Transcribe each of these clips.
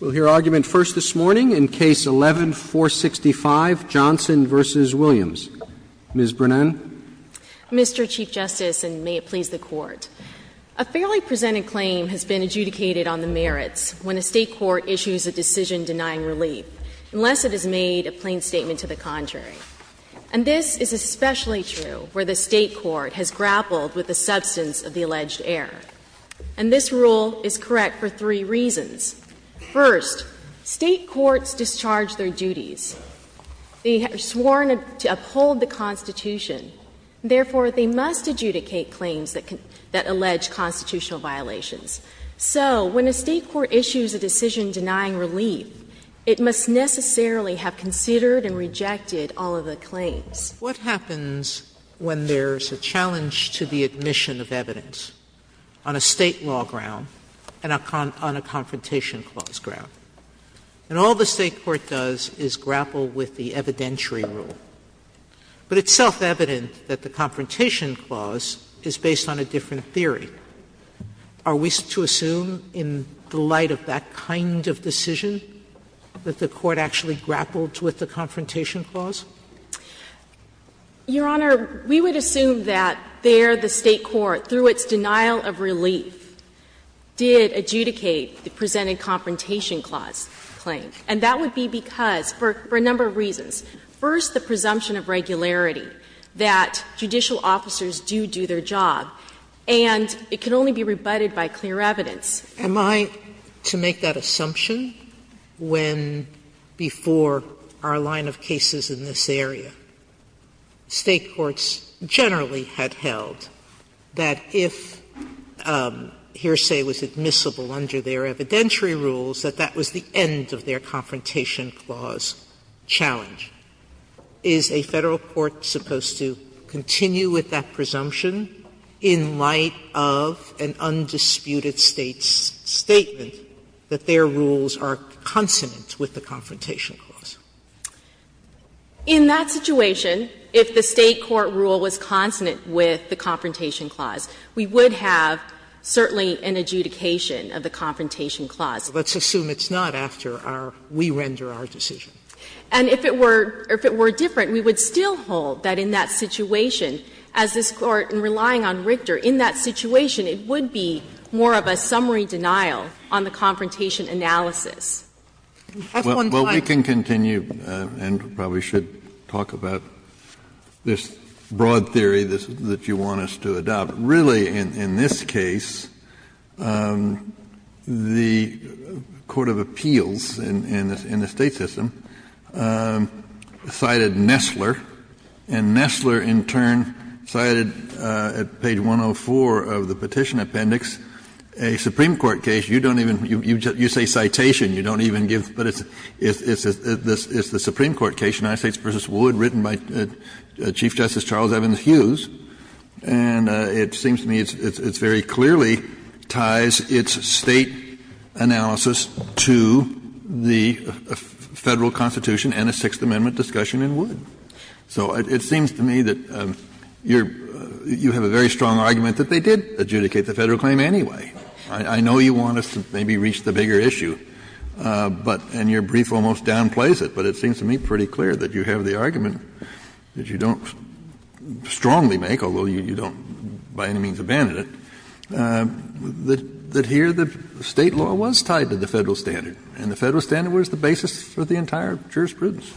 We'll hear argument first this morning in Case 11-465, Johnson v. Williams. Ms. Brennan. Mr. Chief Justice, and may it please the Court, a fairly presented claim has been adjudicated on the merits when a State court issues a decision denying relief, unless it has made a plain statement to the contrary. And this is especially true where the State court has grappled with the substance of the alleged error. And this rule is correct for three reasons. First, State courts discharge their duties. They are sworn to uphold the Constitution. Therefore, they must adjudicate claims that allege constitutional violations. So when a State court issues a decision denying relief, it must necessarily have considered and rejected all of the claims. Sotomayor What happens when there is a challenge to the admission of evidence on a State law ground and on a Confrontation Clause ground? And all the State court does is grapple with the evidentiary rule. But it's self-evident that the Confrontation Clause is based on a different theory. Are we to assume in the light of that kind of decision that the Court actually grappled with the Confrontation Clause? Your Honor, we would assume that there the State court, through its denial of relief, did adjudicate the presented Confrontation Clause claim. And that would be because, for a number of reasons. First, the presumption of regularity that judicial officers do do their job. And it can only be rebutted by clear evidence. Sotomayor Am I to make that assumption when, before our line of cases in this area, State courts generally had held that if hearsay was admissible under their evidentiary rules, that that was the end of their Confrontation Clause challenge? Is a Federal court supposed to continue with that presumption in light of an undisputed State's statement that their rules are consonant with the Confrontation Clause? In that situation, if the State court rule was consonant with the Confrontation Clause, we would have certainly an adjudication of the Confrontation Clause. Let's assume it's not after our, we render our decision. And if it were different, we would still hold that in that situation, as this Court in relying on Richter, in that situation, it would be more of a summary denial on the Confrontation analysis. Kennedy. Well, we can continue and probably should talk about this broad theory that you want us to adopt. But really, in this case, the court of appeals in the State system cited Nessler. And Nessler, in turn, cited at page 104 of the Petition Appendix a Supreme Court case. You don't even, you say citation, you don't even give, but it's, it's the Supreme Court case, United States v. Wood, written by Chief Justice Charles Evans Hughes. And it seems to me it's, it's very clearly ties its State analysis to the Federal Constitution and a Sixth Amendment discussion in Wood. So it seems to me that you're, you have a very strong argument that they did adjudicate the Federal claim anyway. I know you want us to maybe reach the bigger issue, but, and your brief almost downplays it, but it seems to me pretty clear that you have the argument that you don't strongly make, although you don't by any means abandon it, that here the State law was tied to the Federal standard, and the Federal standard was the basis for the entire jurisprudence.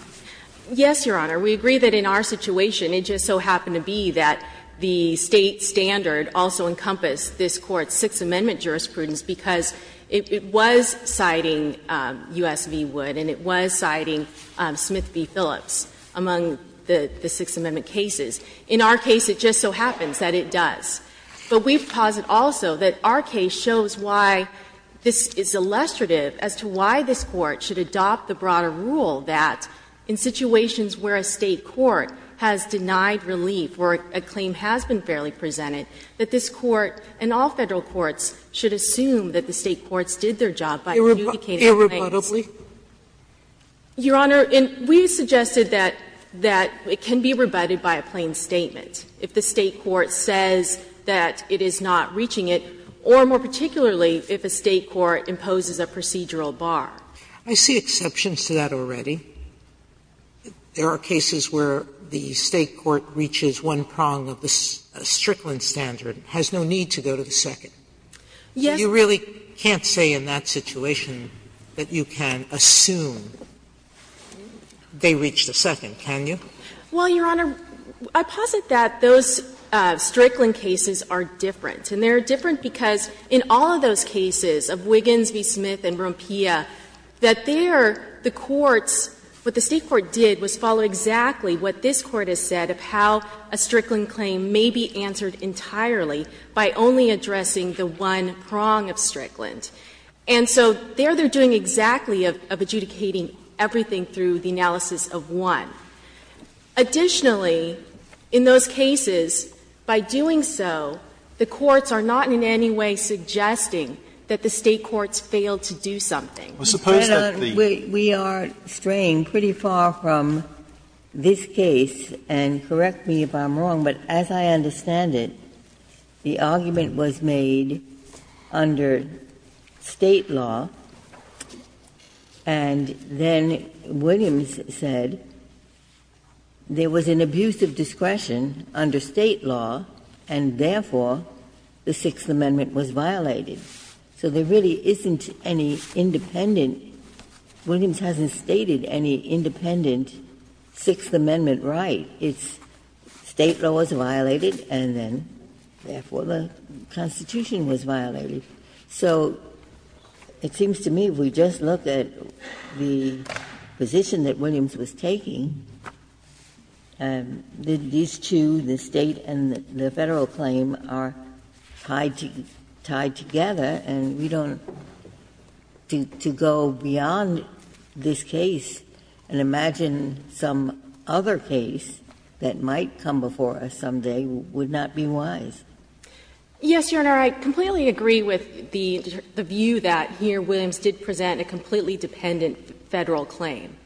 Yes, Your Honor. We agree that in our situation it just so happened to be that the State standard also encompassed this Court's Sixth Amendment jurisprudence because it was citing U.S. v. Wood and it was citing Smith v. Phillips among the Sixth Amendment cases. In our case, it just so happens that it does. But we posit also that our case shows why this is illustrative as to why this Court should adopt the broader rule that in situations where a State court has denied relief or a claim has been fairly presented, that this Court and all Federal courts should assume that the State courts did their job by adjudicating claims. Irrebuttably. Your Honor, we suggested that it can be rebutted by a plain statement if the State court says that it is not reaching it, or more particularly if a State court imposes a procedural bar. I see exceptions to that already. There are cases where the State court reaches one prong of the Strickland standard and has no need to go to the second. Yes. Sotomayor, you really can't say in that situation that you can assume they reach the second, can you? Well, Your Honor, I posit that those Strickland cases are different. And they are different because in all of those cases of Wiggins v. Smith and Rompia, that there, the courts, what the State court did was follow exactly what this Court has said of how a Strickland claim may be answered entirely by only addressing the one prong of Strickland. And so there they are doing exactly of adjudicating everything through the analysis of one. Additionally, in those cases, by doing so, the courts are not in any way suggesting that the State courts failed to do something. Well, suppose that the the We are straying pretty far from this case, and correct me if I'm wrong, but as I understand it, the argument was made under State law, and then Williams said there was an abuse of discretion under State law, and therefore, the Sixth Amendment was violated. So there really isn't any independent — Williams hasn't stated any independent Sixth Amendment right. It's State law was violated, and then, therefore, the Constitution was violated. So it seems to me, if we just look at the position that Williams was taking, these two, the State and the Federal claim, are tied together, and we don't — to go beyond this case and imagine some other case that might come before us someday would not be wise. Yes, Your Honor, I completely agree with the view that here Williams did present a completely dependent Federal claim.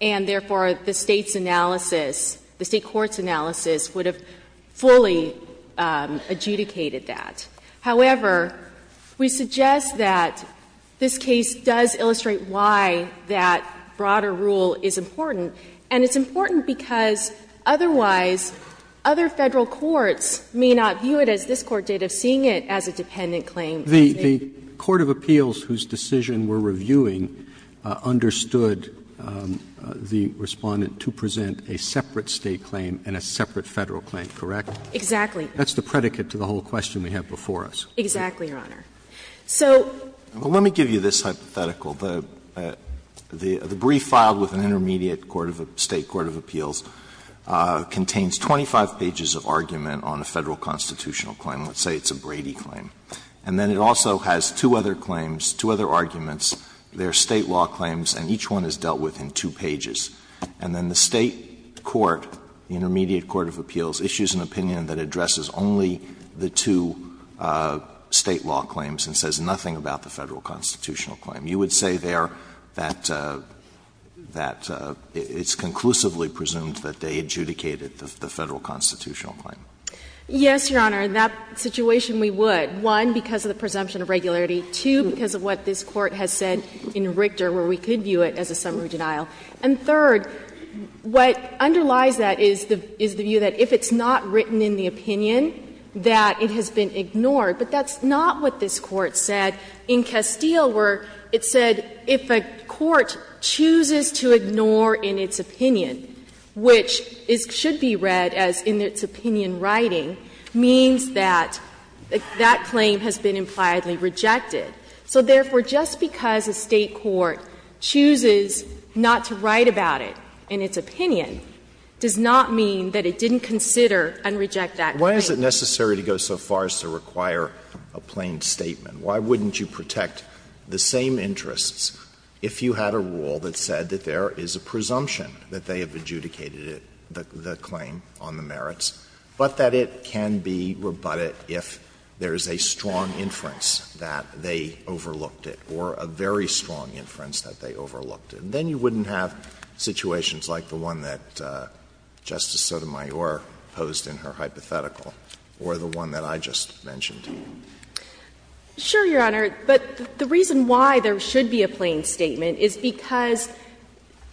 And, therefore, the State's analysis, the State court's analysis would have fully adjudicated that. However, we suggest that this case does illustrate why that broader rule is important, and it's important because otherwise other Federal courts may not view it as this Court did of seeing it as a dependent claim. Roberts The court of appeals whose decision we're reviewing understood the Respondent to present a separate State claim and a separate Federal claim, correct? Exactly. That's the predicate to the whole question we have before us. Exactly, Your Honor. So the brief filed with an intermediate court of appeals contains 25 pages of argument on a Federal constitutional claim. Let's say it's a Brady claim. And then it also has two other claims, two other arguments. They are State law claims, and each one is dealt with in two pages. And then the State court, the intermediate court of appeals, issues an opinion that addresses only the two State law claims and says nothing about the Federal constitutional claim. You would say there that it's conclusively presumed that they adjudicated the Federal constitutional claim. Yes, Your Honor. In that situation, we would, one, because of the presumption of regularity. Two, because of what this Court has said in Richter where we could view it as a summary denial. And third, what underlies that is the view that if it's not written in the opinion that it has been ignored. But that's not what this Court said in Castile, where it said if a court chooses to ignore in its opinion, which should be read as in its opinion writing, means that that claim has been impliedly rejected. So therefore, just because a State court chooses not to write about it in its opinion does not mean that it didn't consider and reject that claim. Why is it necessary to go so far as to require a plain statement? Why wouldn't you protect the same interests if you had a rule that said that there is a presumption that they have adjudicated the claim on the merits, but that it can be rebutted if there is a strong inference that they overlooked it or a very strong inference that they overlooked it? Then you wouldn't have situations like the one that Justice Sotomayor posed in her hypothetical or the one that I just mentioned. Sure, Your Honor. But the reason why there should be a plain statement is because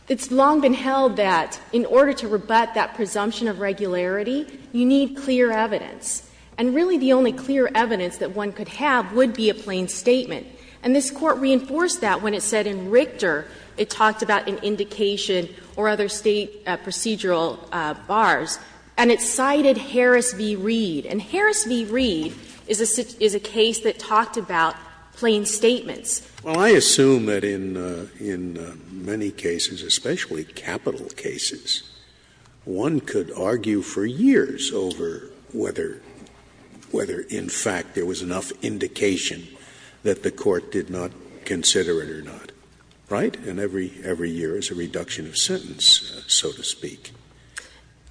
it's long been held that in order to rebut that presumption of regularity, you need clear evidence. And really the only clear evidence that one could have would be a plain statement. And this Court reinforced that when it said in Richter it talked about an indication or other State procedural bars, and it cited Harris v. Reed. And Harris v. Reed is a case that talked about plain statements. Scalia. Well, I assume that in many cases, especially capital cases, one could argue for years over whether, in fact, there was enough indication that the Court did not consider it or not, right? And every year is a reduction of sentence, so to speak.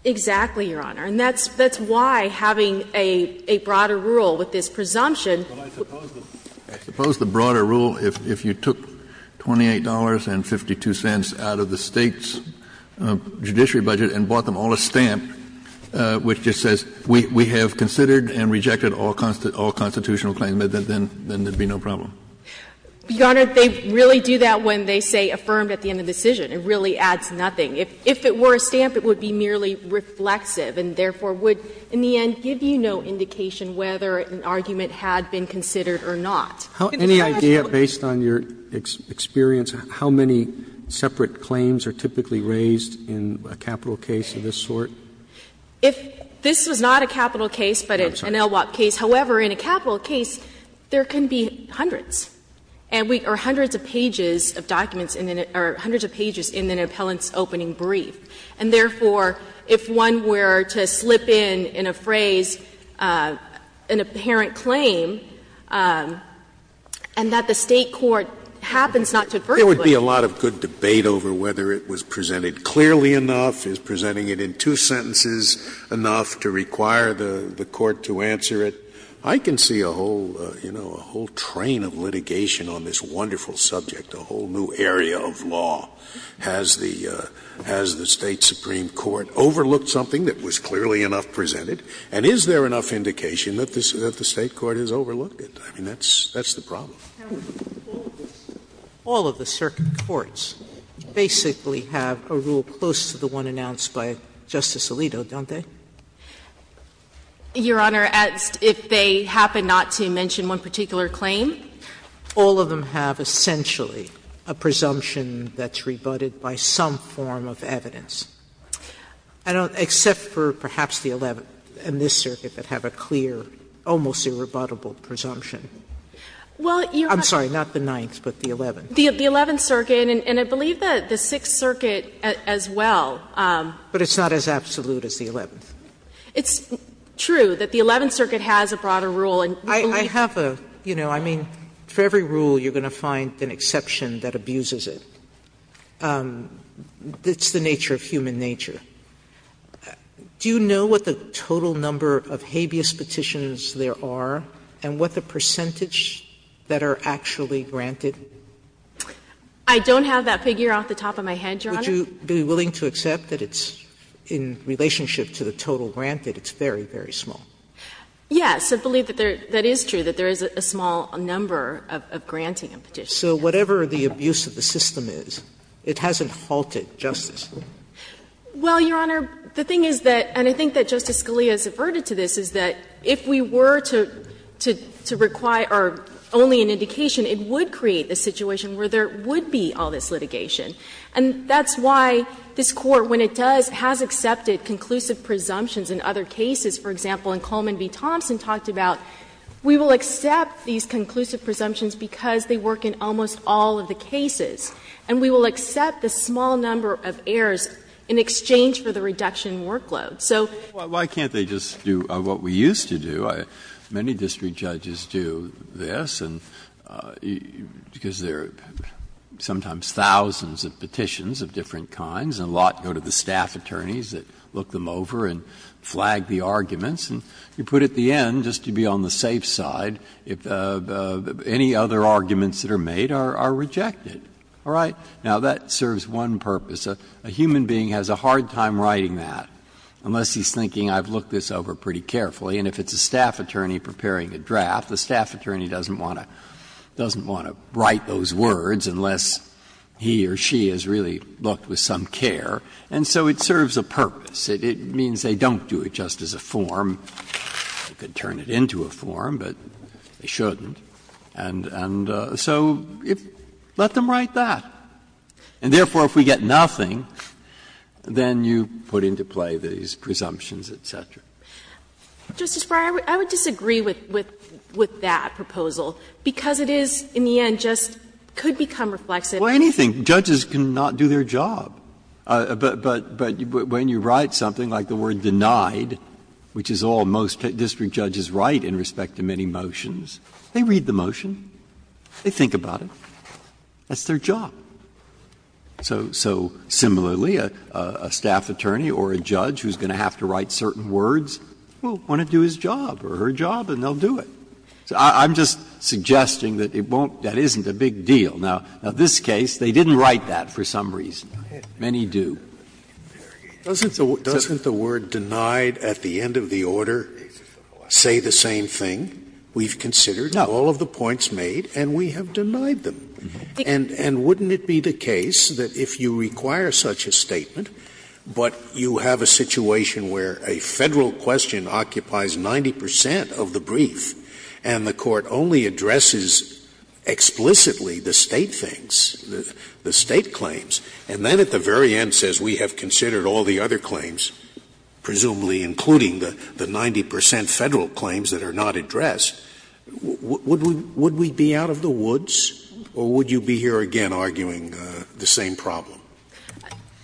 Exactly, Your Honor. And that's why having a broader rule with this presumption. But I suppose the broader rule, if you took $28.52 out of the State's judiciary budget and bought them all a stamp, which just says, we have considered and rejected all constitutional claims, then there would be no problem. Your Honor, they really do that when they say affirmed at the end of the decision. It really adds nothing. If it were a stamp, it would be merely reflexive and therefore would, in the end, give you no indication whether an argument had been considered or not. Any idea, based on your experience, how many separate claims are typically raised in a capital case of this sort? If this was not a capital case, but an LWOP case. However, in a capital case, there can be hundreds. And we are hundreds of pages of documents in an or hundreds of pages in an appellant's opening brief. And therefore, if one were to slip in, in a phrase, an apparent claim, and that the State court happens not to advertise it. There would be a lot of good debate over whether it was presented clearly enough, is presenting it in two sentences enough to require the court to answer it. I can see a whole, you know, a whole train of litigation on this wonderful subject, a whole new area of law. Has the State supreme court overlooked something that was clearly enough presented? And is there enough indication that the State court has overlooked it? I mean, that's the problem. Sotomayor, all of the circuit courts basically have a rule close to the one announced by Justice Alito, don't they? Your Honor, if they happen not to mention one particular claim? All of them have essentially a presumption that's rebutted by some form of evidence. I don't know, except for perhaps the Eleventh and this circuit that have a clear, almost irrebuttable presumption. I'm sorry, not the Ninth, but the Eleventh. The Eleventh Circuit, and I believe that the Sixth Circuit as well. But it's not as absolute as the Eleventh. It's true that the Eleventh Circuit has a broader rule, and I believe that the Sixth Sotomayor, I have a, you know, I mean, for every rule you're going to find an exception that abuses it. It's the nature of human nature. Do you know what the total number of habeas petitions there are, and what the percentage that are actually granted? Would you be willing to accept that it's, in relationship to the total granted, it's very, very small? Yes, I believe that there — that is true, that there is a small number of granting petitions. So whatever the abuse of the system is, it hasn't halted justice? Well, Your Honor, the thing is that, and I think that Justice Scalia has averted to this, is that if we were to require only an indication, it would create a situation where there would be all this litigation. And that's why this Court, when it does, has accepted conclusive presumptions in other cases. For example, in Coleman v. Thompson, talked about, we will accept these conclusive presumptions because they work in almost all of the cases, and we will accept the small number of errors in exchange for the reduction in workload. So why can't they just do what we used to do? I mean, there are different forms of petitions of different kinds, and a lot go to the staff attorneys that look them over and flag the arguments, and you put at the end, just to be on the safe side, if any other arguments that are made are rejected. All right? Now, that serves one purpose. A human being has a hard time writing that, unless he's thinking I've looked this over pretty carefully, and if it's a staff attorney preparing a draft, the staff attorney has really looked with some care, and so it serves a purpose. It means they don't do it just as a form. They could turn it into a form, but they shouldn't. And so let them write that. And therefore, if we get nothing, then you put into play these presumptions, et cetera. Justice Breyer, I would disagree with that proposal, because it is, in the end, just could become reflexive. Well, anything, judges can not do their job. But when you write something like the word denied, which is all most district judges write in respect to many motions, they read the motion, they think about it, that's their job. So similarly, a staff attorney or a judge who's going to have to write certain words will want to do his job or her job, and they'll do it. I'm just suggesting that it won't — that isn't a big deal. Now, in this case, they didn't write that for some reason. Many do. Scalia, doesn't the word denied at the end of the order say the same thing? We've considered all of the points made, and we have denied them. And wouldn't it be the case that if you require such a statement, but you have a situation where a Federal question occupies 90 percent of the brief, and the Court only addresses explicitly the State things, the State claims, and then at the very end says we have considered all the other claims, presumably including the 90 percent Federal claims that are not addressed, would we be out of the woods, or would you be here again arguing the same problem?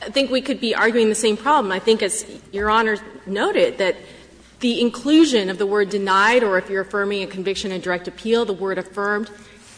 I think we could be arguing the same problem. I think, as Your Honor noted, that the inclusion of the word denied, or if you're affirmed,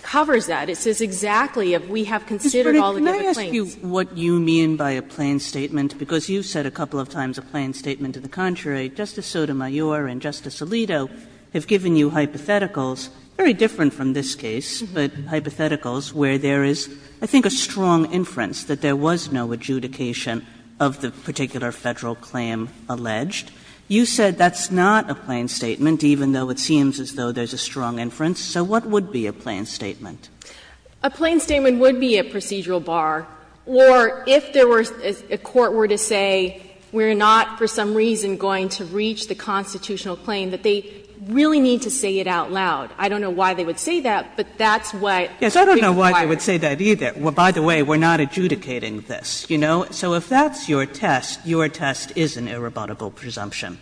covers that. It says exactly if we have considered all of the other claims. Kagan, can I ask you what you mean by a plain statement? Because you've said a couple of times a plain statement to the contrary. Justice Sotomayor and Justice Alito have given you hypotheticals, very different from this case, but hypotheticals where there is, I think, a strong inference that there was no adjudication of the particular Federal claim alleged. You said that's not a plain statement, even though it seems as though there's a strong inference. So what would be a plain statement? A plain statement would be a procedural bar. Or if there were to be a court were to say we're not for some reason going to reach the constitutional claim, that they really need to say it out loud. I don't know why they would say that, but that's what we require. Yes, I don't know why they would say that either. By the way, we're not adjudicating this, you know. So if that's your test, your test is an irrebuttable presumption.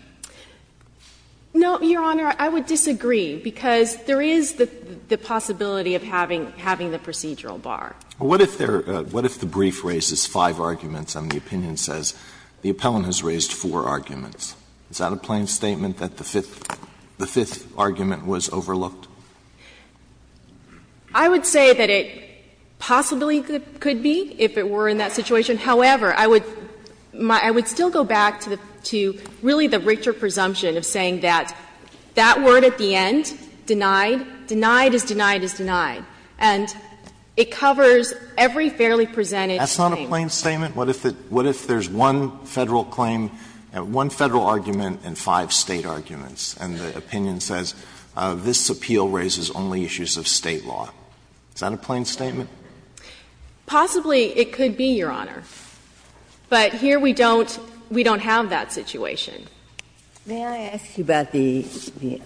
No, Your Honor, I would disagree, because there is the possibility of having the procedural bar. What if there are the brief raises five arguments and the opinion says the appellant has raised four arguments? Is that a plain statement that the fifth argument was overlooked? I would say that it possibly could be, if it were in that situation. However, I would still go back to really the Richter presumption of saying that that word at the end, denied, denied is denied is denied. And it covers every fairly presented claim. That's not a plain statement? What if there's one Federal claim, one Federal argument and five State arguments, and the opinion says this appeal raises only issues of State law? Is that a plain statement? Possibly it could be, Your Honor. But here we don't, we don't have that situation. Ginsburg. May I ask you about the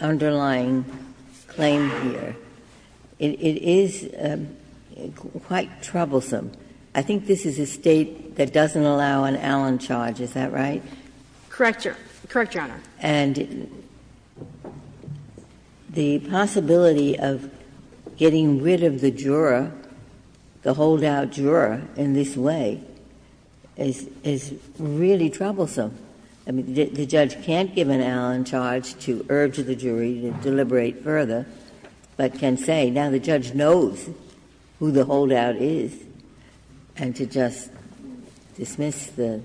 underlying claim here? It is quite troublesome. I think this is a State that doesn't allow an Allen charge, is that right? Correct, Your Honor. And the possibility of getting rid of the juror, the holdout juror in this way, is a is really troublesome. I mean, the judge can't give an Allen charge to urge the jury to deliberate further, but can say, now the judge knows who the holdout is, and to just dismiss the,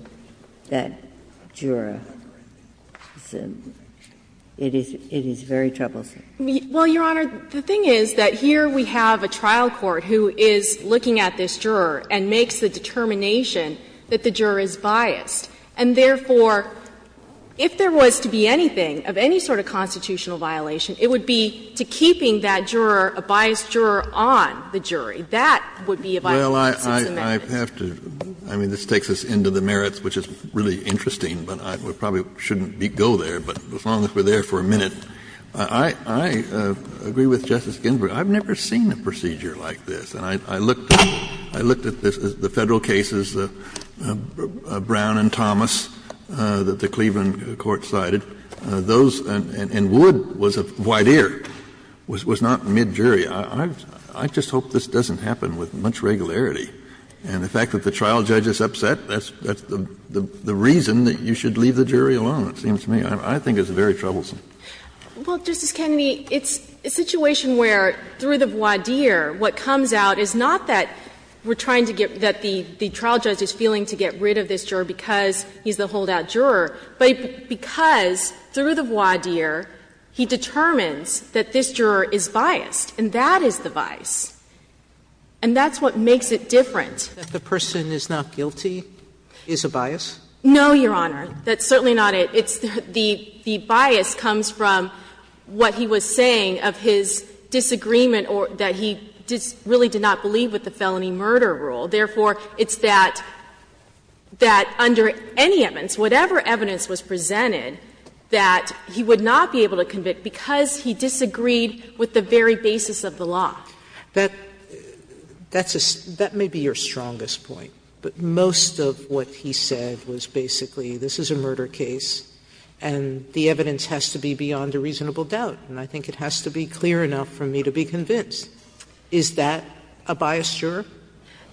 that juror, it's a, it is, it is very troublesome. Well, Your Honor, the thing is that here we have a trial court who is looking at this juror and makes the determination that the juror is biased. And therefore, if there was to be anything of any sort of constitutional violation, it would be to keeping that juror, a biased juror, on the jury. That would be a violation of Sixth Amendment. Well, I have to, I mean, this takes us into the merits, which is really interesting, but I probably shouldn't go there. But as long as we're there for a minute, I, I agree with Justice Ginsburg. I've never seen a procedure like this. And I, I looked, I looked at the Federal cases, Brown and Thomas, that the Cleveland court cited. Those, and Wood was a voir dire, was, was not mid-jury. I, I just hope this doesn't happen with much regularity. And the fact that the trial judge is upset, that's, that's the, the reason that you should leave the jury alone, it seems to me. I think it's very troublesome. Well, Justice Kennedy, it's a situation where, through the voir dire, what comes out is not that we're trying to get, that the, the trial judge is feeling to get rid of this juror because he's the holdout juror, but because, through the voir dire, he determines that this juror is biased. And that is the bias. And that's what makes it different. That the person is not guilty is a bias? No, Your Honor. That's certainly not it. It's the, the bias comes from what he was saying of his disagreement or that he really did not believe with the felony murder rule. Therefore, it's that, that under any evidence, whatever evidence was presented, that he would not be able to convict because he disagreed with the very basis of the law. That, that's a, that may be your strongest point. But most of what he said was basically, this is a murder case, and the evidence has to be beyond a reasonable doubt. And I think it has to be clear enough for me to be convinced. Is that a biased juror?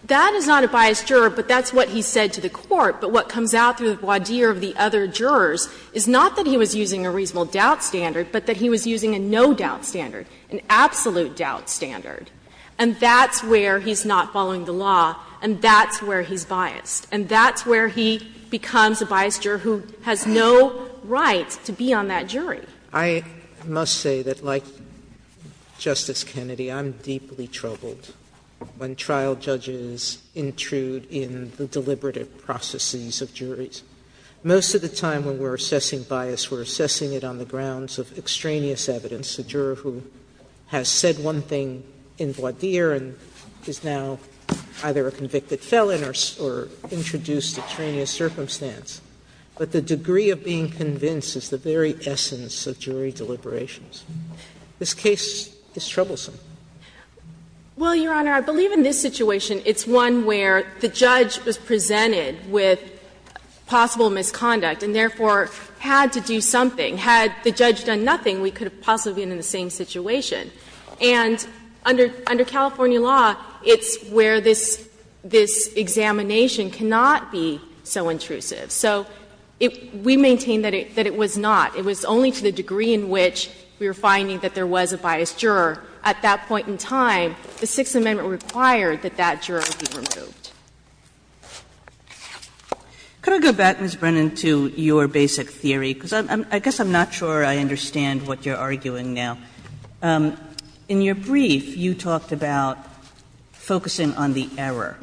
That is not a biased juror, but that's what he said to the Court. But what comes out through the voir dire of the other jurors is not that he was using a reasonable doubt standard, but that he was using a no-doubt standard, an absolute doubt standard. And that's where he's not following the law, and that's where he's biased. And that's where he becomes a biased juror who has no right to be on that jury. Sotomayor, I must say that like Justice Kennedy, I'm deeply troubled when trial judges intrude in the deliberative processes of juries. Most of the time when we're assessing bias, we're assessing it on the grounds of extraneous evidence, a juror who has said one thing in voir dire and is now either a convicted felon or introduced extraneous circumstance. But the degree of being convinced is the very essence of jury deliberations. This case is troublesome. Well, Your Honor, I believe in this situation, it's one where the judge was presented with possible misconduct and, therefore, had to do something. Had the judge done nothing, we could have possibly been in the same situation. And under California law, it's where this examination cannot be so intrusive. So we maintain that it was not. It was only to the degree in which we were finding that there was a biased juror. At that point in time, the Sixth Amendment required that that juror be removed. Kagan. GOTTLIEB Could I go back, Ms. Brennan, to your basic theory, because I guess I'm not sure I understand what you're arguing now. In your brief, you talked about focusing on the error.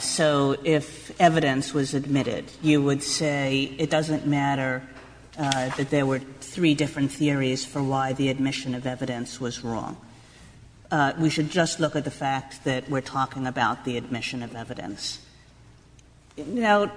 So if evidence was admitted, you would say it doesn't matter that there were three different theories for why the admission of evidence was wrong. We should just look at the fact that we're talking about the admission of evidence. Now,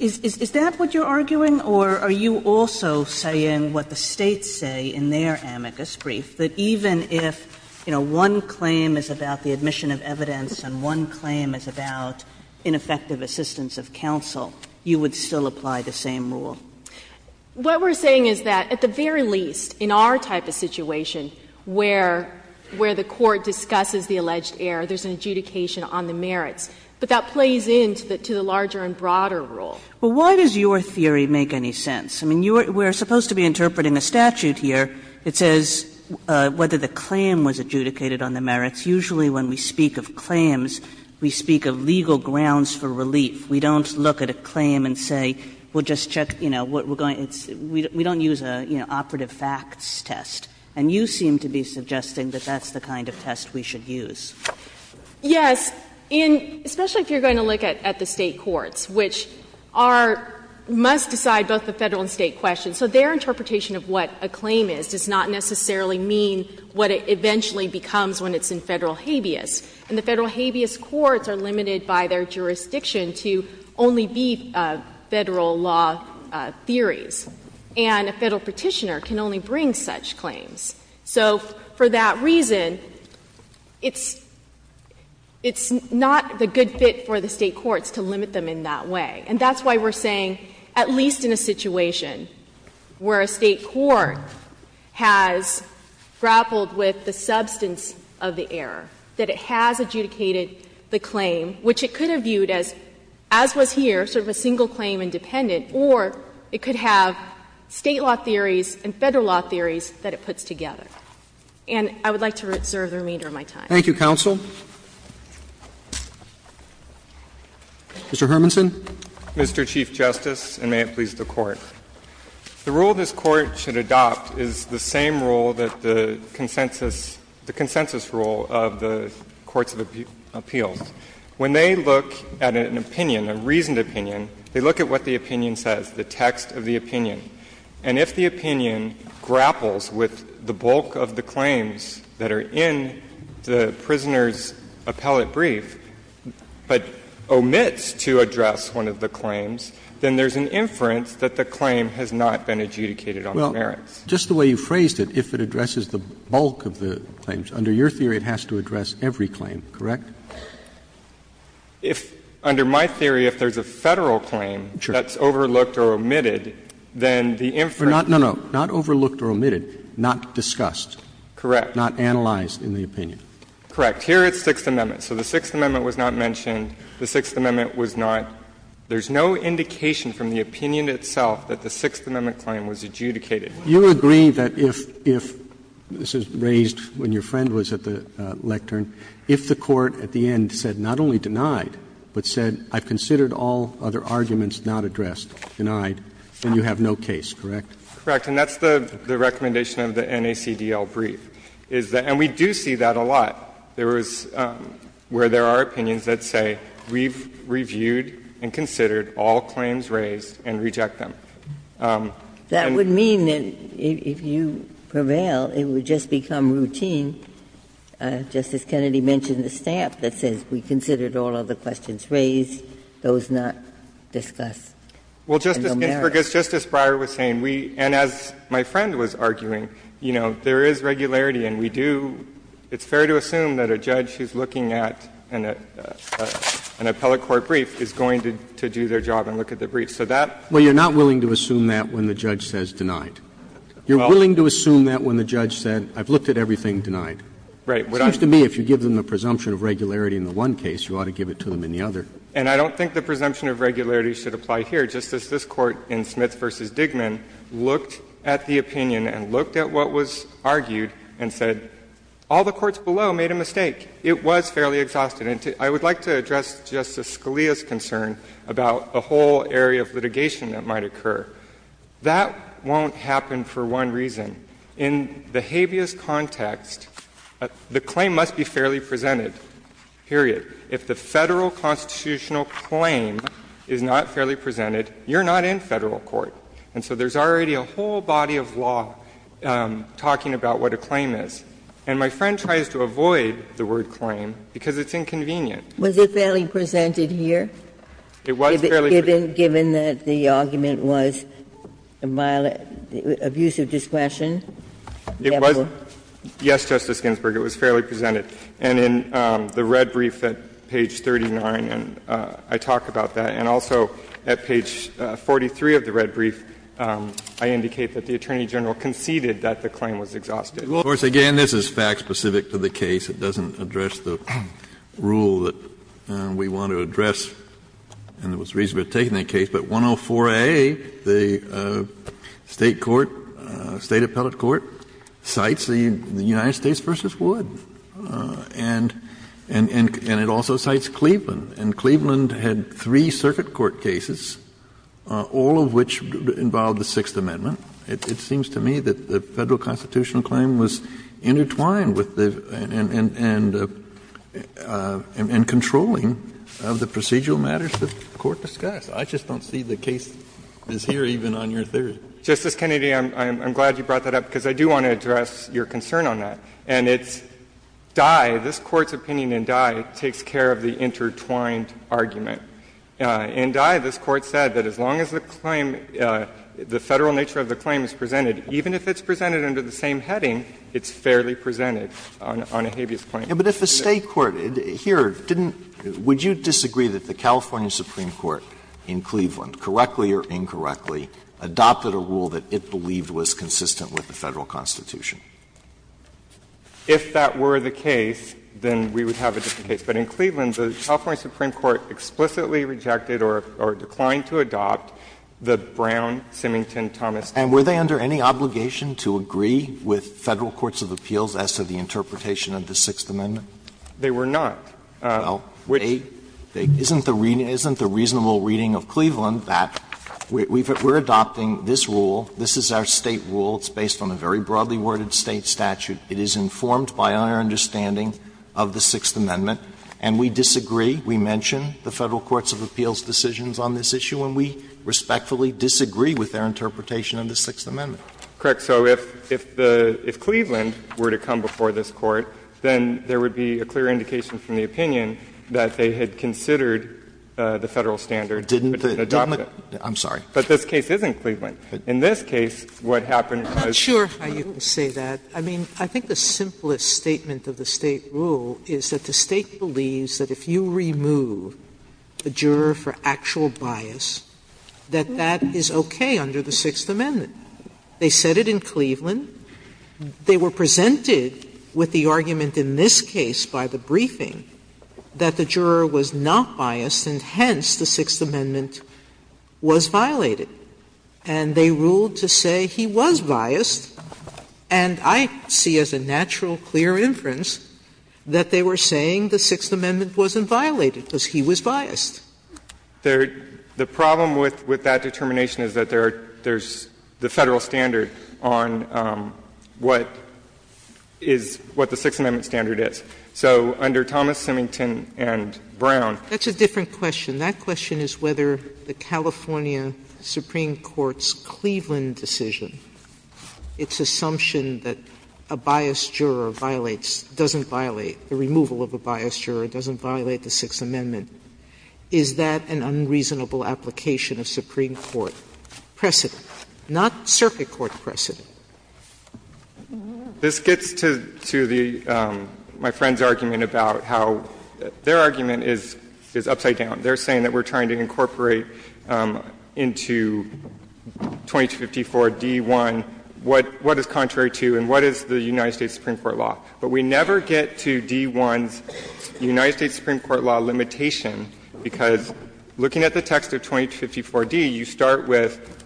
is that what you're arguing, or are you also saying what the States say in their amicus brief, that even if, you know, one claim is about the admission of evidence and one claim is about ineffective assistance of counsel, you would still apply the same rule? Brennan What we're saying is that, at the very least, in our type of situation where the Court discusses the alleged error, there's an adjudication on the merits. But that plays into the larger and broader rule. Kagan Well, why does your theory make any sense? I mean, we're supposed to be interpreting a statute here. It says whether the claim was adjudicated on the merits. Usually when we speak of claims, we speak of legal grounds for relief. We don't look at a claim and say, we'll just check, you know, what we're going to do. We don't use an operative facts test. And you seem to be suggesting that that's the kind of test we should use. Brennan Yes. And especially if you're going to look at the State courts, which are, must decide both the Federal and State questions. So their interpretation of what a claim is does not necessarily mean what it eventually becomes when it's in Federal habeas. And the Federal habeas courts are limited by their jurisdiction to only be Federal law theories. And a Federal petitioner can only bring such claims. So for that reason, it's not a good fit for the State courts to limit them in that way. And that's why we're saying, at least in a situation where a State court has grappled with the substance of the error, that it has adjudicated the claim, which it could have viewed as, as was here, sort of a single claim independent, or it could have State law theories and Federal law theories that it puts together. And I would like to reserve the remainder of my time. Thank you, counsel. Mr. Hermansen. Mr. Chief Justice, and may it please the Court. The rule this Court should adopt is the same rule that the consensus rule of the Courts of Appeals. When they look at an opinion, a reasoned opinion, they look at what the opinion says, the text of the opinion. And if the opinion grapples with the bulk of the claims that are in the prisoner's appellate brief, but omits to address one of the claims, then there's an inference that the claim has not been adjudicated on the merits. Well, just the way you phrased it, if it addresses the bulk of the claims, under your theory it has to address every claim, correct? If, under my theory, if there's a Federal claim that's overlooked or omitted, then the inference. But not, no, no, not overlooked or omitted, not discussed. Correct. Not analyzed in the opinion. Correct. Here it's Sixth Amendment. So the Sixth Amendment was not mentioned. The Sixth Amendment was not. There's no indication from the opinion itself that the Sixth Amendment claim was adjudicated. You agree that if, this is raised when your friend was at the lectern, if the court at the end said not only denied, but said I've considered all other arguments not addressed, denied, then you have no case, correct? Correct. And that's the recommendation of the NACDL brief, is that, and we do see that a lot. There is, where there are opinions that say we've reviewed and considered all claims raised and reject them. And we've considered all other questions raised, those not discussed. Well, Justice Ginsburg, as Justice Breyer was saying, we, and as my friend was arguing, you know, there is regularity, and we do, it's fair to assume that a judge who's looking at an appellate court brief is going to do their job and look at the brief. So that. Well, you're not willing to assume that when the judge says denied. You're willing to assume that when the judge said I've looked at everything denied. Right. It seems to me if you give them the presumption of regularity in the one case, you ought to give it to them in the other. And I don't think the presumption of regularity should apply here. Justice, this Court in Schmitz v. Digman looked at the opinion and looked at what was argued and said all the courts below made a mistake. It was fairly exhausted. And I would like to address Justice Scalia's concern about a whole area of litigation that might occur. That won't happen for one reason. In the habeas context, the claim must be fairly presented, period. If the Federal constitutional claim is not fairly presented, you're not in Federal court. And so there's already a whole body of law talking about what a claim is. And my friend tries to avoid the word claim because it's inconvenient. Was it fairly presented here? It was fairly presented. Given that the argument was abuse of discretion? It was. Yes, Justice Ginsburg, it was fairly presented. And in the red brief at page 39, and I talk about that, and also at page 43 of the red brief, I indicate that the Attorney General conceded that the claim was exhausted. Kennedy, of course, again, this is fact-specific to the case. It doesn't address the rule that we want to address, and there was reason for taking that case. But 104a, the State court, State appellate court, cites the United States v. Wood and it also cites Cleveland. And Cleveland had three circuit court cases, all of which involved the Sixth Amendment. It seems to me that the Federal constitutional claim was intertwined with the and controlling of the procedural matters that the Court discussed. I just don't see the case is here even on your theory. Justice Kennedy, I'm glad you brought that up because I do want to address your concern on that. And it's Dye, this Court's opinion in Dye, takes care of the intertwined argument. In Dye, this Court said that as long as the claim, the Federal nature of the claim is presented, even if it's presented under the same heading, it's fairly presented on a habeas claim. Alito, but if a State court here didn't, would you disagree that the California Supreme Court in Cleveland, correctly or incorrectly, adopted a rule that it believed was consistent with the Federal Constitution? If that were the case, then we would have a different case. But in Cleveland, the California Supreme Court explicitly rejected or declined to adopt the Brown, Simington, Thomas, and Dye. Alito, were they under any obligation to agree with Federal courts of appeals as to the interpretation of the Sixth Amendment? They were not. Well, isn't the reasonable reading of Cleveland that we're adopting this rule, this is our State rule, it's based on a very broadly worded State statute, it is informed by our understanding of the Sixth Amendment, and we disagree? We mention the Federal courts of appeals' decisions on this issue, and we respectfully disagree with their interpretation of the Sixth Amendment? Correct. So if the – if Cleveland were to come before this Court, then there would be a clear indication from the opinion that they had considered the Federal standard, but didn't adopt it. I'm sorry. But this case is in Cleveland. In this case, what happened was – I'm not sure how you can say that. I mean, I think the simplest statement of the State rule is that the State believes that if you remove a juror for actual bias, that that is okay under the Sixth Amendment. They said it in Cleveland. They were presented with the argument in this case by the briefing that the juror was not biased, and hence the Sixth Amendment was violated. And they ruled to say he was biased, and I see as a natural clear inference that they were saying the Sixth Amendment wasn't violated, because he was biased. There – the problem with that determination is that there are – there's the Federal standard on what is – what the Sixth Amendment standard is. So under Thomas, Simington, and Brown – That's a different question. That question is whether the California Supreme Court's Cleveland decision, its assumption that a biased juror violates – doesn't violate, the removal of a biased juror doesn't violate the Sixth Amendment, is that an unreasonable application of Supreme Court precedent, not circuit court precedent? This gets to the – my friend's argument about how their argument is upside down. They're saying that we're trying to incorporate into 2254d.1 what is contrary to and what is the United States Supreme Court law. But we never get to d.1's United States Supreme Court law limitation, because looking at the text of 2254d, you start with,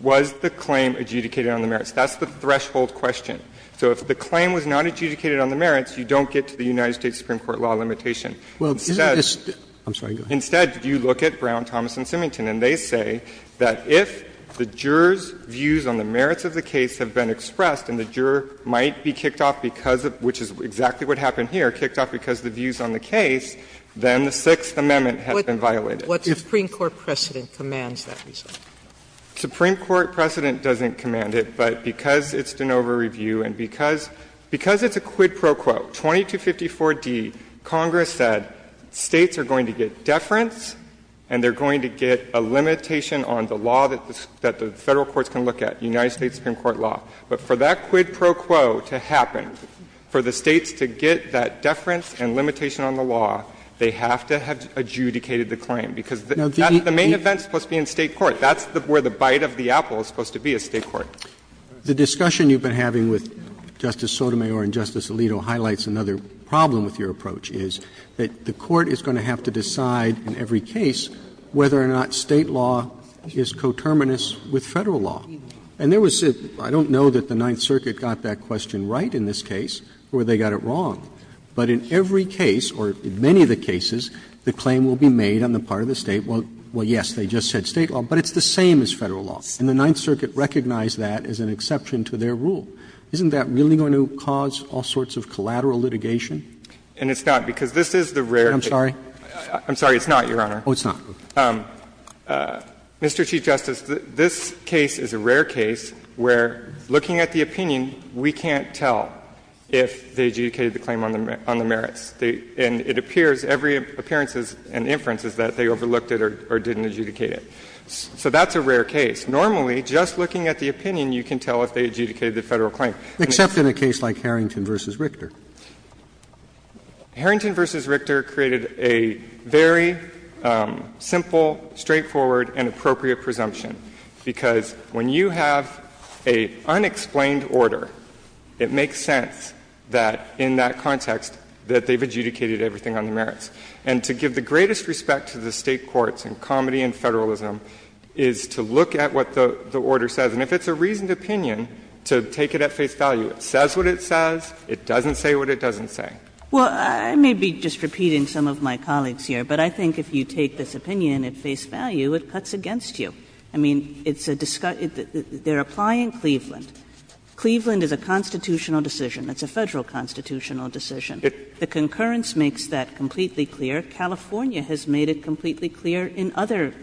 was the claim adjudicated on the merits? That's the threshold question. So if the claim was not adjudicated on the merits, you don't get to the United States Supreme Court law limitation. Well, isn't this – I'm sorry, go ahead. Instead, you look at Brown, Thomas, and Simington, and they say that if the juror's views on the merits of the case have been expressed, and the juror might be kicked off because of – which is exactly what happened here, kicked off because of the views on the case, then the Sixth Amendment has been violated. What Supreme Court precedent commands that result? Supreme Court precedent doesn't command it, but because it's de novo review and because it's a quid pro quo, 2254d, Congress said States are going to get deference and they're going to get a limitation on the law that the Federal courts can look at, United States Supreme Court law. But for that quid pro quo to happen, for the States to get that deference and limitation on the law, they have to have adjudicated the claim, because that's the main event that's supposed to be in State court. That's where the bite of the apple is supposed to be, is State court. Roberts. The discussion you've been having with Justice Sotomayor and Justice Alito highlights another problem with your approach, is that the court is going to have to decide in every case whether or not State law is coterminous with Federal law. And there was – I don't know that the Ninth Circuit got that question right in this case or they got it wrong, but in every case, or in many of the cases, the claim will be made on the part of the State, well, yes, they just said State law, but it's the same as Federal law. And the Ninth Circuit recognized that as an exception to their rule. Isn't that really going to cause all sorts of collateral litigation? And it's not, because this is the rare case. I'm sorry? I'm sorry, it's not, Your Honor. Oh, it's not. Mr. Chief Justice, this case is a rare case where, looking at the opinion, we can't tell if they adjudicated the claim on the merits. And it appears, every appearance and inference is that they overlooked it or didn't adjudicate it. So that's a rare case. Normally, just looking at the opinion, you can tell if they adjudicated the Federal claim. Except in a case like Harrington v. Richter. Harrington v. Richter created a very simple, straightforward, and appropriate presumption, because when you have an unexplained order, it makes sense that, in that context, that they've adjudicated everything on the merits. And to give the greatest respect to the State courts in comedy and Federalism is to look at what the order says. And if it's a reasoned opinion, to take it at face value. It says what it says. It doesn't say what it doesn't say. Well, I may be just repeating some of my colleagues here, but I think if you take this opinion at face value, it cuts against you. I mean, it's a discussion they're applying Cleveland. Cleveland is a constitutional decision. It's a Federal constitutional decision. The concurrence makes that completely clear. California has made it completely clear in other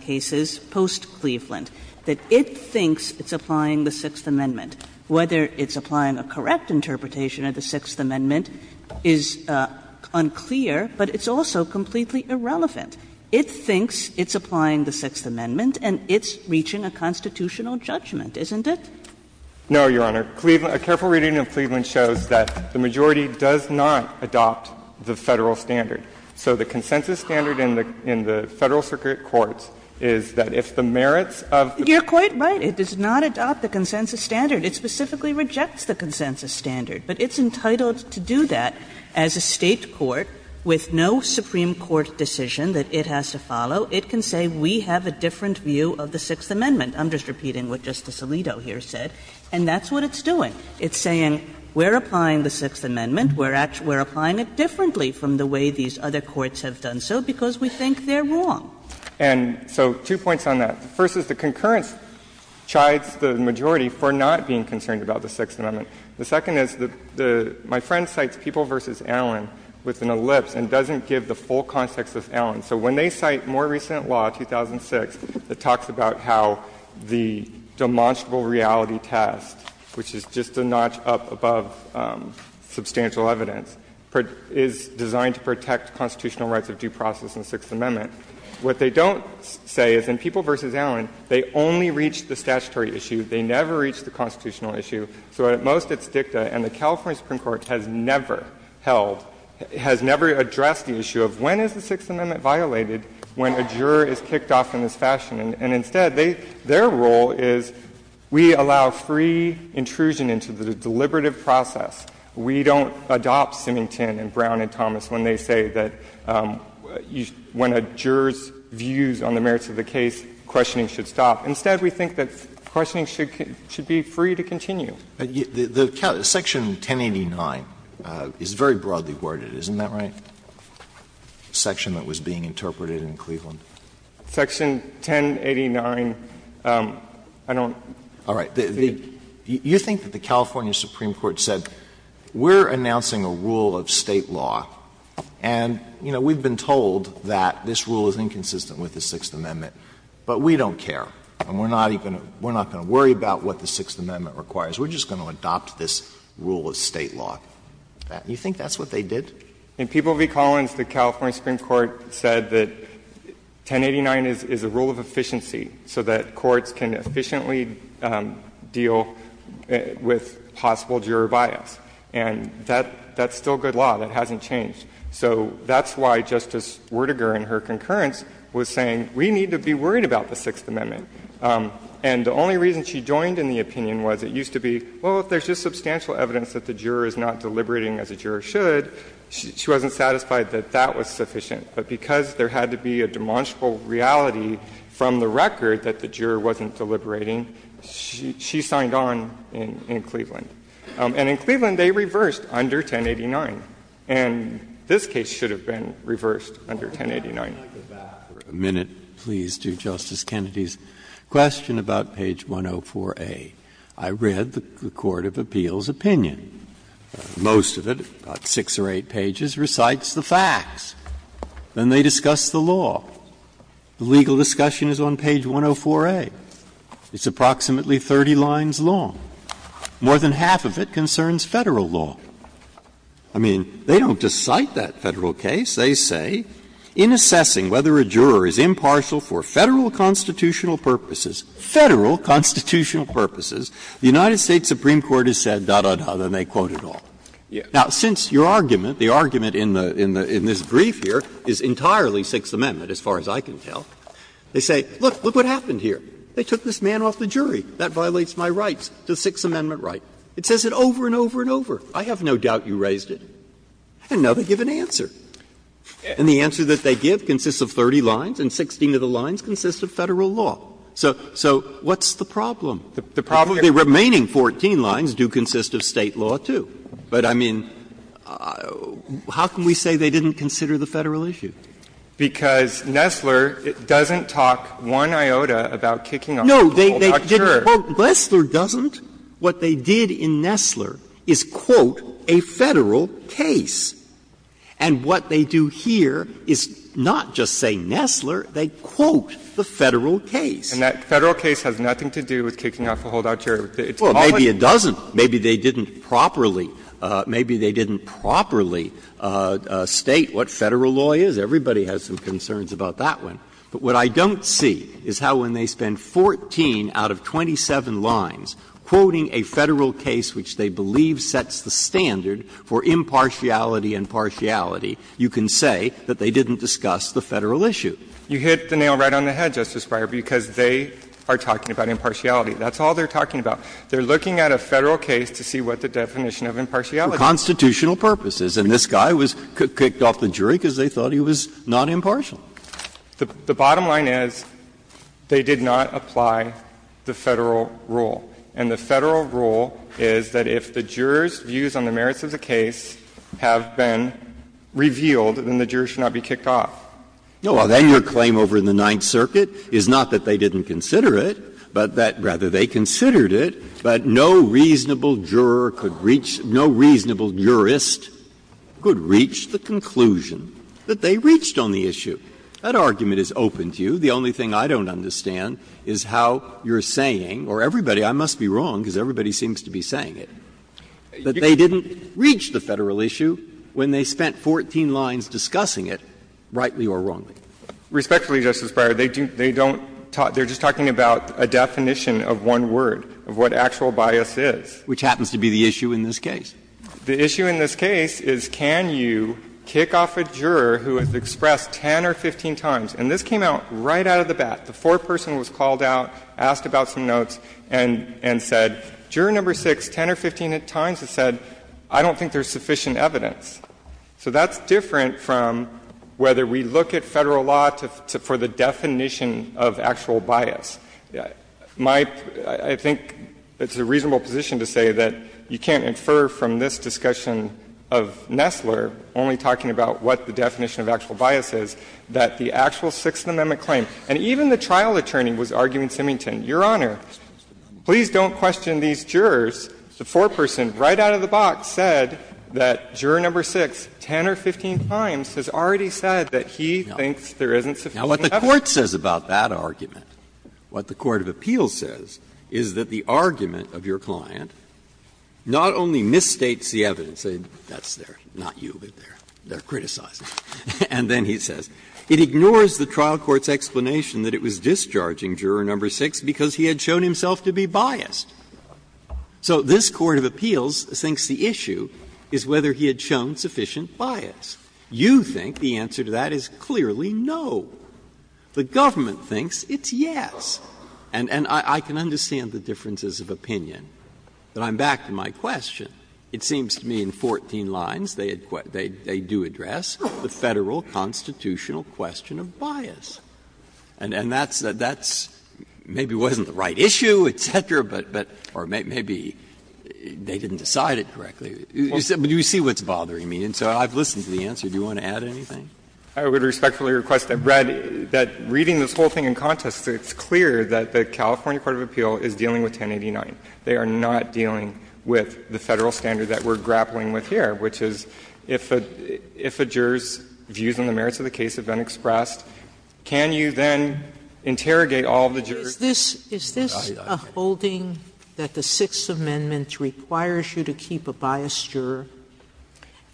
cases post-Cleveland that it thinks it's applying the Sixth Amendment. Whether it's applying a correct interpretation of the Sixth Amendment is unclear, but it's also completely irrelevant. It thinks it's applying the Sixth Amendment, and it's reaching a constitutional judgment, isn't it? No, Your Honor. A careful reading of Cleveland shows that the majority does not adopt the Federal standard. So the consensus standard in the Federal circuit courts is that if the merits of the Court's decision is not to adopt the consensus standard, it specifically rejects the consensus standard. But it's entitled to do that as a State court with no Supreme Court decision that it has to follow. It can say we have a different view of the Sixth Amendment. I'm just repeating what Justice Alito here said, and that's what it's doing. It's saying we're applying the Sixth Amendment, we're applying it differently from the way these other courts have done so, because we think they're wrong. And so two points on that. The first is the concurrence chides the majority for not being concerned about the Sixth Amendment. The second is the my friend cites People v. Allen with an ellipse and doesn't give the full context of Allen. So when they cite more recent law, 2006, it talks about how the demonstrable reality test, which is just a notch up above substantial evidence, is designed to protect constitutional rights of due process in the Sixth Amendment. What they don't say is in People v. Allen, they only reach the statutory issue. They never reach the constitutional issue. So at most it's dicta, and the California Supreme Court has never held, has never addressed the issue of when is the Sixth Amendment violated when a juror is kicked off in this fashion. And instead, they — their role is we allow free intrusion into the deliberative process. We don't adopt Symington and Brown and Thomas when they say that when a juror's views on the merits of the case, questioning should stop. Instead, we think that questioning should be free to continue. Alitoso, Section 1089 is very broadly worded, isn't that right, the section that was being interpreted in Cleveland? Section 1089, I don't think. You think that the California Supreme Court said, we're announcing a rule of State law, and, you know, we've been told that this rule is inconsistent with the Sixth Amendment, but we don't care, and we're not going to worry about what the Sixth Amendment requires, we're just going to adopt this rule of State law. You think that's what they did? In People v. Collins, the California Supreme Court said that 1089 is a rule of efficiency so that courts can efficiently deal with possible juror bias. And that's still good law. That hasn't changed. So that's why Justice Werdegar in her concurrence was saying we need to be worried about the Sixth Amendment. And the only reason she joined in the opinion was it used to be, well, if there's just substantial evidence that the juror is not deliberating as a juror should, she wasn't satisfied that that was sufficient. But because there had to be a demonstrable reality from the record that the juror wasn't deliberating, she signed on in Cleveland. And in Cleveland, they reversed under 1089. And this case should have been reversed under 1089. Breyer. I'd like to back for a minute, please, to Justice Kennedy's question about page 104a. I read the court of appeals' opinion. Most of it, about six or eight pages, recites the facts. Then they discuss the law. The legal discussion is on page 104a. It's approximately 30 lines long. More than half of it concerns Federal law. I mean, they don't just cite that Federal case. They say, In assessing whether a juror is impartial for Federal constitutional purposes --"Federal constitutional purposes," the United States Supreme Court has said, da, da, da, then they quote it all. Now, since your argument, the argument in this brief here is entirely Sixth Amendment, as far as I can tell, they say, look, look what happened here. They took this man off the jury. That violates my rights, the Sixth Amendment right. It says it over and over and over. I have no doubt you raised it. And now they give an answer. And the answer that they give consists of 30 lines, and 16 of the lines consist of Federal law. So what's the problem? The problem is the remaining 14 lines do consist of State law, too. But, I mean, how can we say they didn't consider the Federal issue? Because Nessler doesn't talk one iota about kicking off a holdout juror. No, they didn't quote Nessler doesn't. What they did in Nessler is, quote, a Federal case. And what they do here is not just say Nessler, they quote the Federal case. And that Federal case has nothing to do with kicking off a holdout juror. It's all in Nessler. Well, maybe it doesn't. Maybe they didn't properly state what Federal law is. Everybody has some concerns about that one. But what I don't see is how when they spend 14 out of 27 lines quoting a Federal case which they believe sets the standard for impartiality and partiality, you can say that they didn't discuss the Federal issue. You hit the nail right on the head, Justice Breyer, because they are talking about impartiality. That's all they're talking about. They're looking at a Federal case to see what the definition of impartiality is. Breyer For constitutional purposes. And this guy was kicked off the jury because they thought he was not impartial. The bottom line is they did not apply the Federal rule. And the Federal rule is that if the jurors' views on the merits of the case have been revealed, then the jurors should not be kicked off. No, well, then your claim over in the Ninth Circuit is not that they didn't consider it, but that, rather, they considered it, but no reasonable juror could reach no reasonable jurist could reach the conclusion that they reached on the issue. That argument is open to you. The only thing I don't understand is how you're saying, or everybody, I must be wrong because everybody seems to be saying it, that they didn't reach the Federal issue when they spent 14 lines discussing it, rightly or wrongly. Respectfully, Justice Breyer, they don't talk they're just talking about a definition of one word, of what actual bias is. Which happens to be the issue in this case. The issue in this case is can you kick off a juror who has expressed 10 or 15 times and this came out right out of the bat. The foreperson was called out, asked about some notes, and said, Juror No. 6, 10 or 15 times has said, I don't think there's sufficient evidence. So that's different from whether we look at Federal law for the definition of actual bias. My — I think it's a reasonable position to say that you can't infer from this discussion of Nessler, only talking about what the definition of actual bias is, that the actual Sixth Amendment claim, and even the trial attorney was arguing, Simington, Your Honor, please don't question these jurors. The foreperson, right out of the box, said that Juror No. 6, 10 or 15 times, has already said that he thinks there isn't sufficient evidence. Breyer. Now, what the Court says about that argument, what the court of appeals says, is that the argument of your client not only misstates the evidence, that's their, not you, but their, their criticism, and then he says, It ignores the trial court's explanation that it was discharging Juror No. 6 because he had shown himself to be biased. So this court of appeals thinks the issue is whether he had shown sufficient bias. You think the answer to that is clearly no. The government thinks it's yes. And I can understand the differences of opinion, but I'm back to my question. It seems to me in 14 lines they had — they do address the Federal constitutional question of bias. And that's — that's maybe wasn't the right issue, et cetera, but — or maybe they didn't decide it correctly. But you see what's bothering me, and so I've listened to the answer. Do you want to add anything? I would respectfully request that, Brad, that reading this whole thing in context, it's clear that the California court of appeal is dealing with 1089. They are not dealing with the Federal standard that we're grappling with here, which is if a — if a juror's views on the merits of the case have been expressed, can you then interrogate all of the jurors? Sotomayor, is this a holding that the Sixth Amendment requires you to keep a biased juror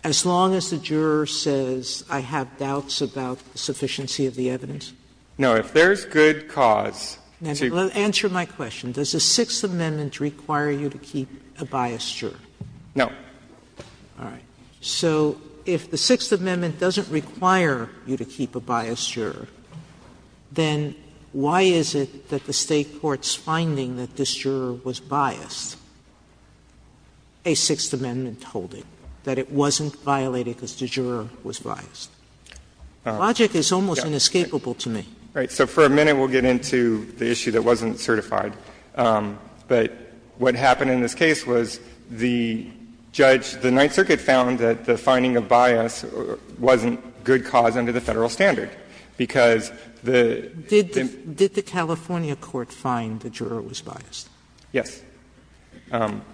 as long as the juror says, I have doubts about the sufficiency of the evidence? No. If there's good cause to — Answer my question. Does the Sixth Amendment require you to keep a biased juror? No. All right. So if the Sixth Amendment doesn't require you to keep a biased juror, then why is it that the State court's finding that this juror was biased, a Sixth Amendment holding, that it wasn't violated because the juror was biased? Logic is almost inescapable to me. Right. So for a minute, we'll get into the issue that wasn't certified. But what happened in this case was the judge, the Ninth Circuit, found that the finding of bias wasn't good cause under the Federal standard, because the — Did the California court find the juror was biased? Yes.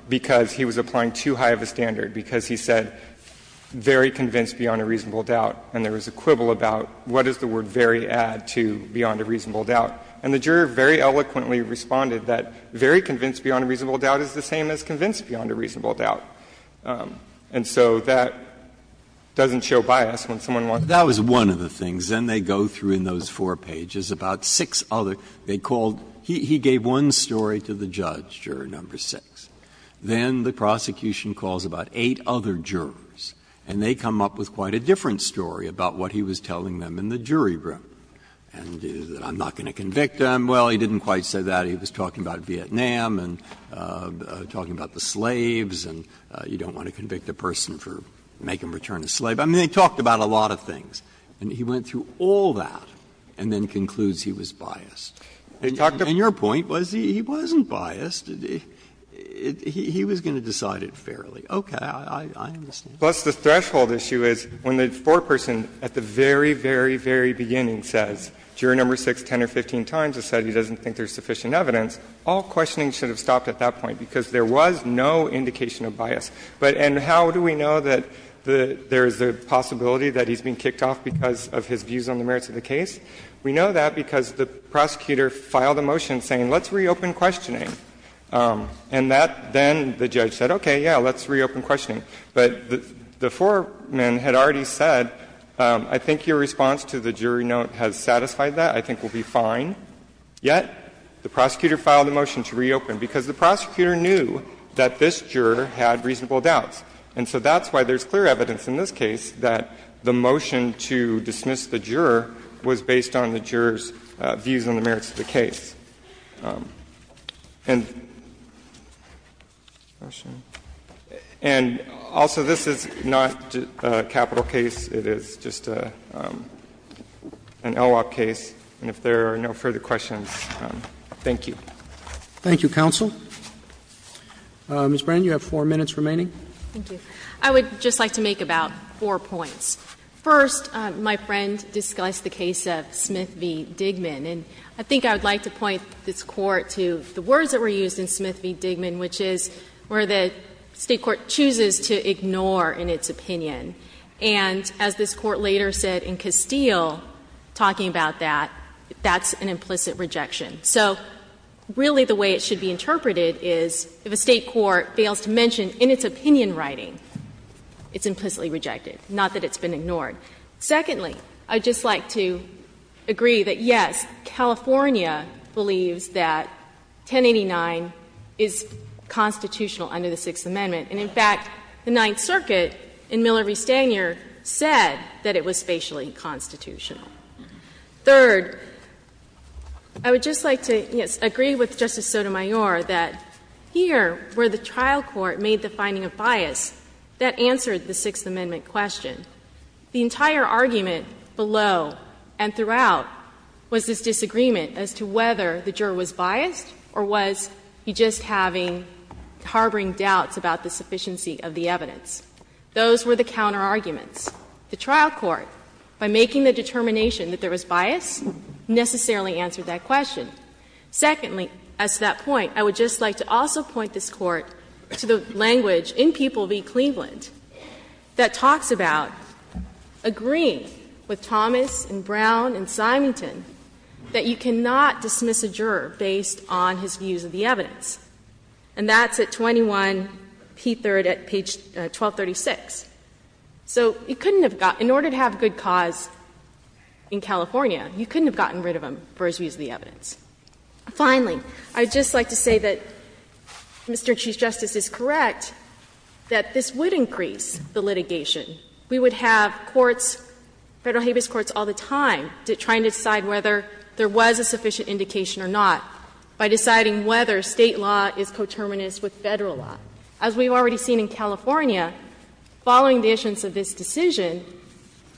Because he was applying too high of a standard, because he said, very convinced beyond a reasonable doubt, and there was a quibble about what does the word very add to beyond a reasonable doubt? And the juror very eloquently responded that very convinced beyond a reasonable doubt is the same as convinced beyond a reasonable doubt. And so that doesn't show bias when someone wants to be biased. That was one of the things. Then they go through in those four pages about six other — they called — he gave one story to the judge, Juror No. 6. Then the prosecution calls about eight other jurors, and they come up with quite a different story about what he was telling them in the jury room, and that I'm not going to convict him. Well, he didn't quite say that. He was talking about Vietnam and talking about the slaves and you don't want to convict a person for making them return a slave. I mean, they talked about a lot of things. And he went through all that and then concludes he was biased. And your point was he wasn't biased. He was going to decide it fairly. Okay. I understand. Plus, the threshold issue is when the foreperson at the very, very, very beginning says, Juror No. 6, 10 or 15 times has said he doesn't think there's sufficient evidence, all questioning should have stopped at that point because there was no indication of bias. But — and how do we know that there is a possibility that he's being kicked off because of his views on the merits of the case? We know that because the prosecutor filed a motion saying, let's reopen questioning. And that — then the judge said, okay, yeah, let's reopen questioning. But the foreman had already said, I think your response to the jury note has satisfied that, I think we'll be fine. Yet, the prosecutor filed a motion to reopen because the prosecutor knew that this juror had reasonable doubts. And so that's why there's clear evidence in this case that the motion to dismiss the juror was based on the juror's views on the merits of the case. And also, this is not a capital case. It is just an LWOP case. And if there are no further questions, thank you. Roberts. Thank you, counsel. Ms. Brand, you have four minutes remaining. Thank you. I would just like to make about four points. First, my friend discussed the case of Smith v. Digman, and I think I would like to point this Court to the words that were used in Smith v. Digman, which is where the State court chooses to ignore in its opinion. And as this Court later said in Castile, talking about that, that's an implicit rejection. So really the way it should be interpreted is if a State court fails to mention in its opinion writing, it's implicitly rejected, not that it's been ignored. Secondly, I would just like to agree that, yes, California believes that 1089 is constitutional under the Sixth Amendment. And in fact, the Ninth Circuit in Miller v. Stanyer said that it was spatially constitutional. Third, I would just like to, yes, agree with Justice Sotomayor that here, where the trial court made the finding of bias, that answered the Sixth Amendment question. The entire argument below and throughout was this disagreement as to whether the juror was biased, or was he just having, harboring doubts about the sufficiency of the evidence. Those were the counterarguments. The trial court, by making the determination that there was bias, necessarily answered that question. Secondly, as to that point, I would just like to also point this Court to the language in People v. Cleveland that talks about agreeing with Thomas and Brown and Symington that you cannot dismiss a juror based on his views of the evidence. And that's at 21P3rd at page 1236. So you couldn't have gotten — in order to have good cause in California, you couldn't have gotten rid of him for his views of the evidence. Finally, I would just like to say that Mr. Chief Justice is correct that this would increase the litigation. We would have courts, Federal habeas courts, all the time trying to decide whether there was a sufficient indication or not by deciding whether State law is coterminous with Federal law. As we've already seen in California, following the issuance of this decision,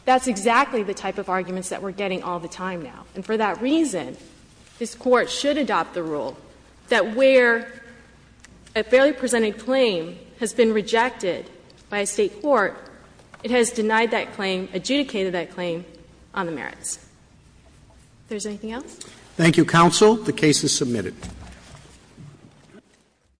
that's exactly the type of arguments that we're getting all the time now. And for that reason, this Court should adopt the rule that where a fairly presented claim has been rejected by a State court, it has denied that claim, adjudicated that claim on the merits. If there's anything else? Thank you, counsel. The case is submitted.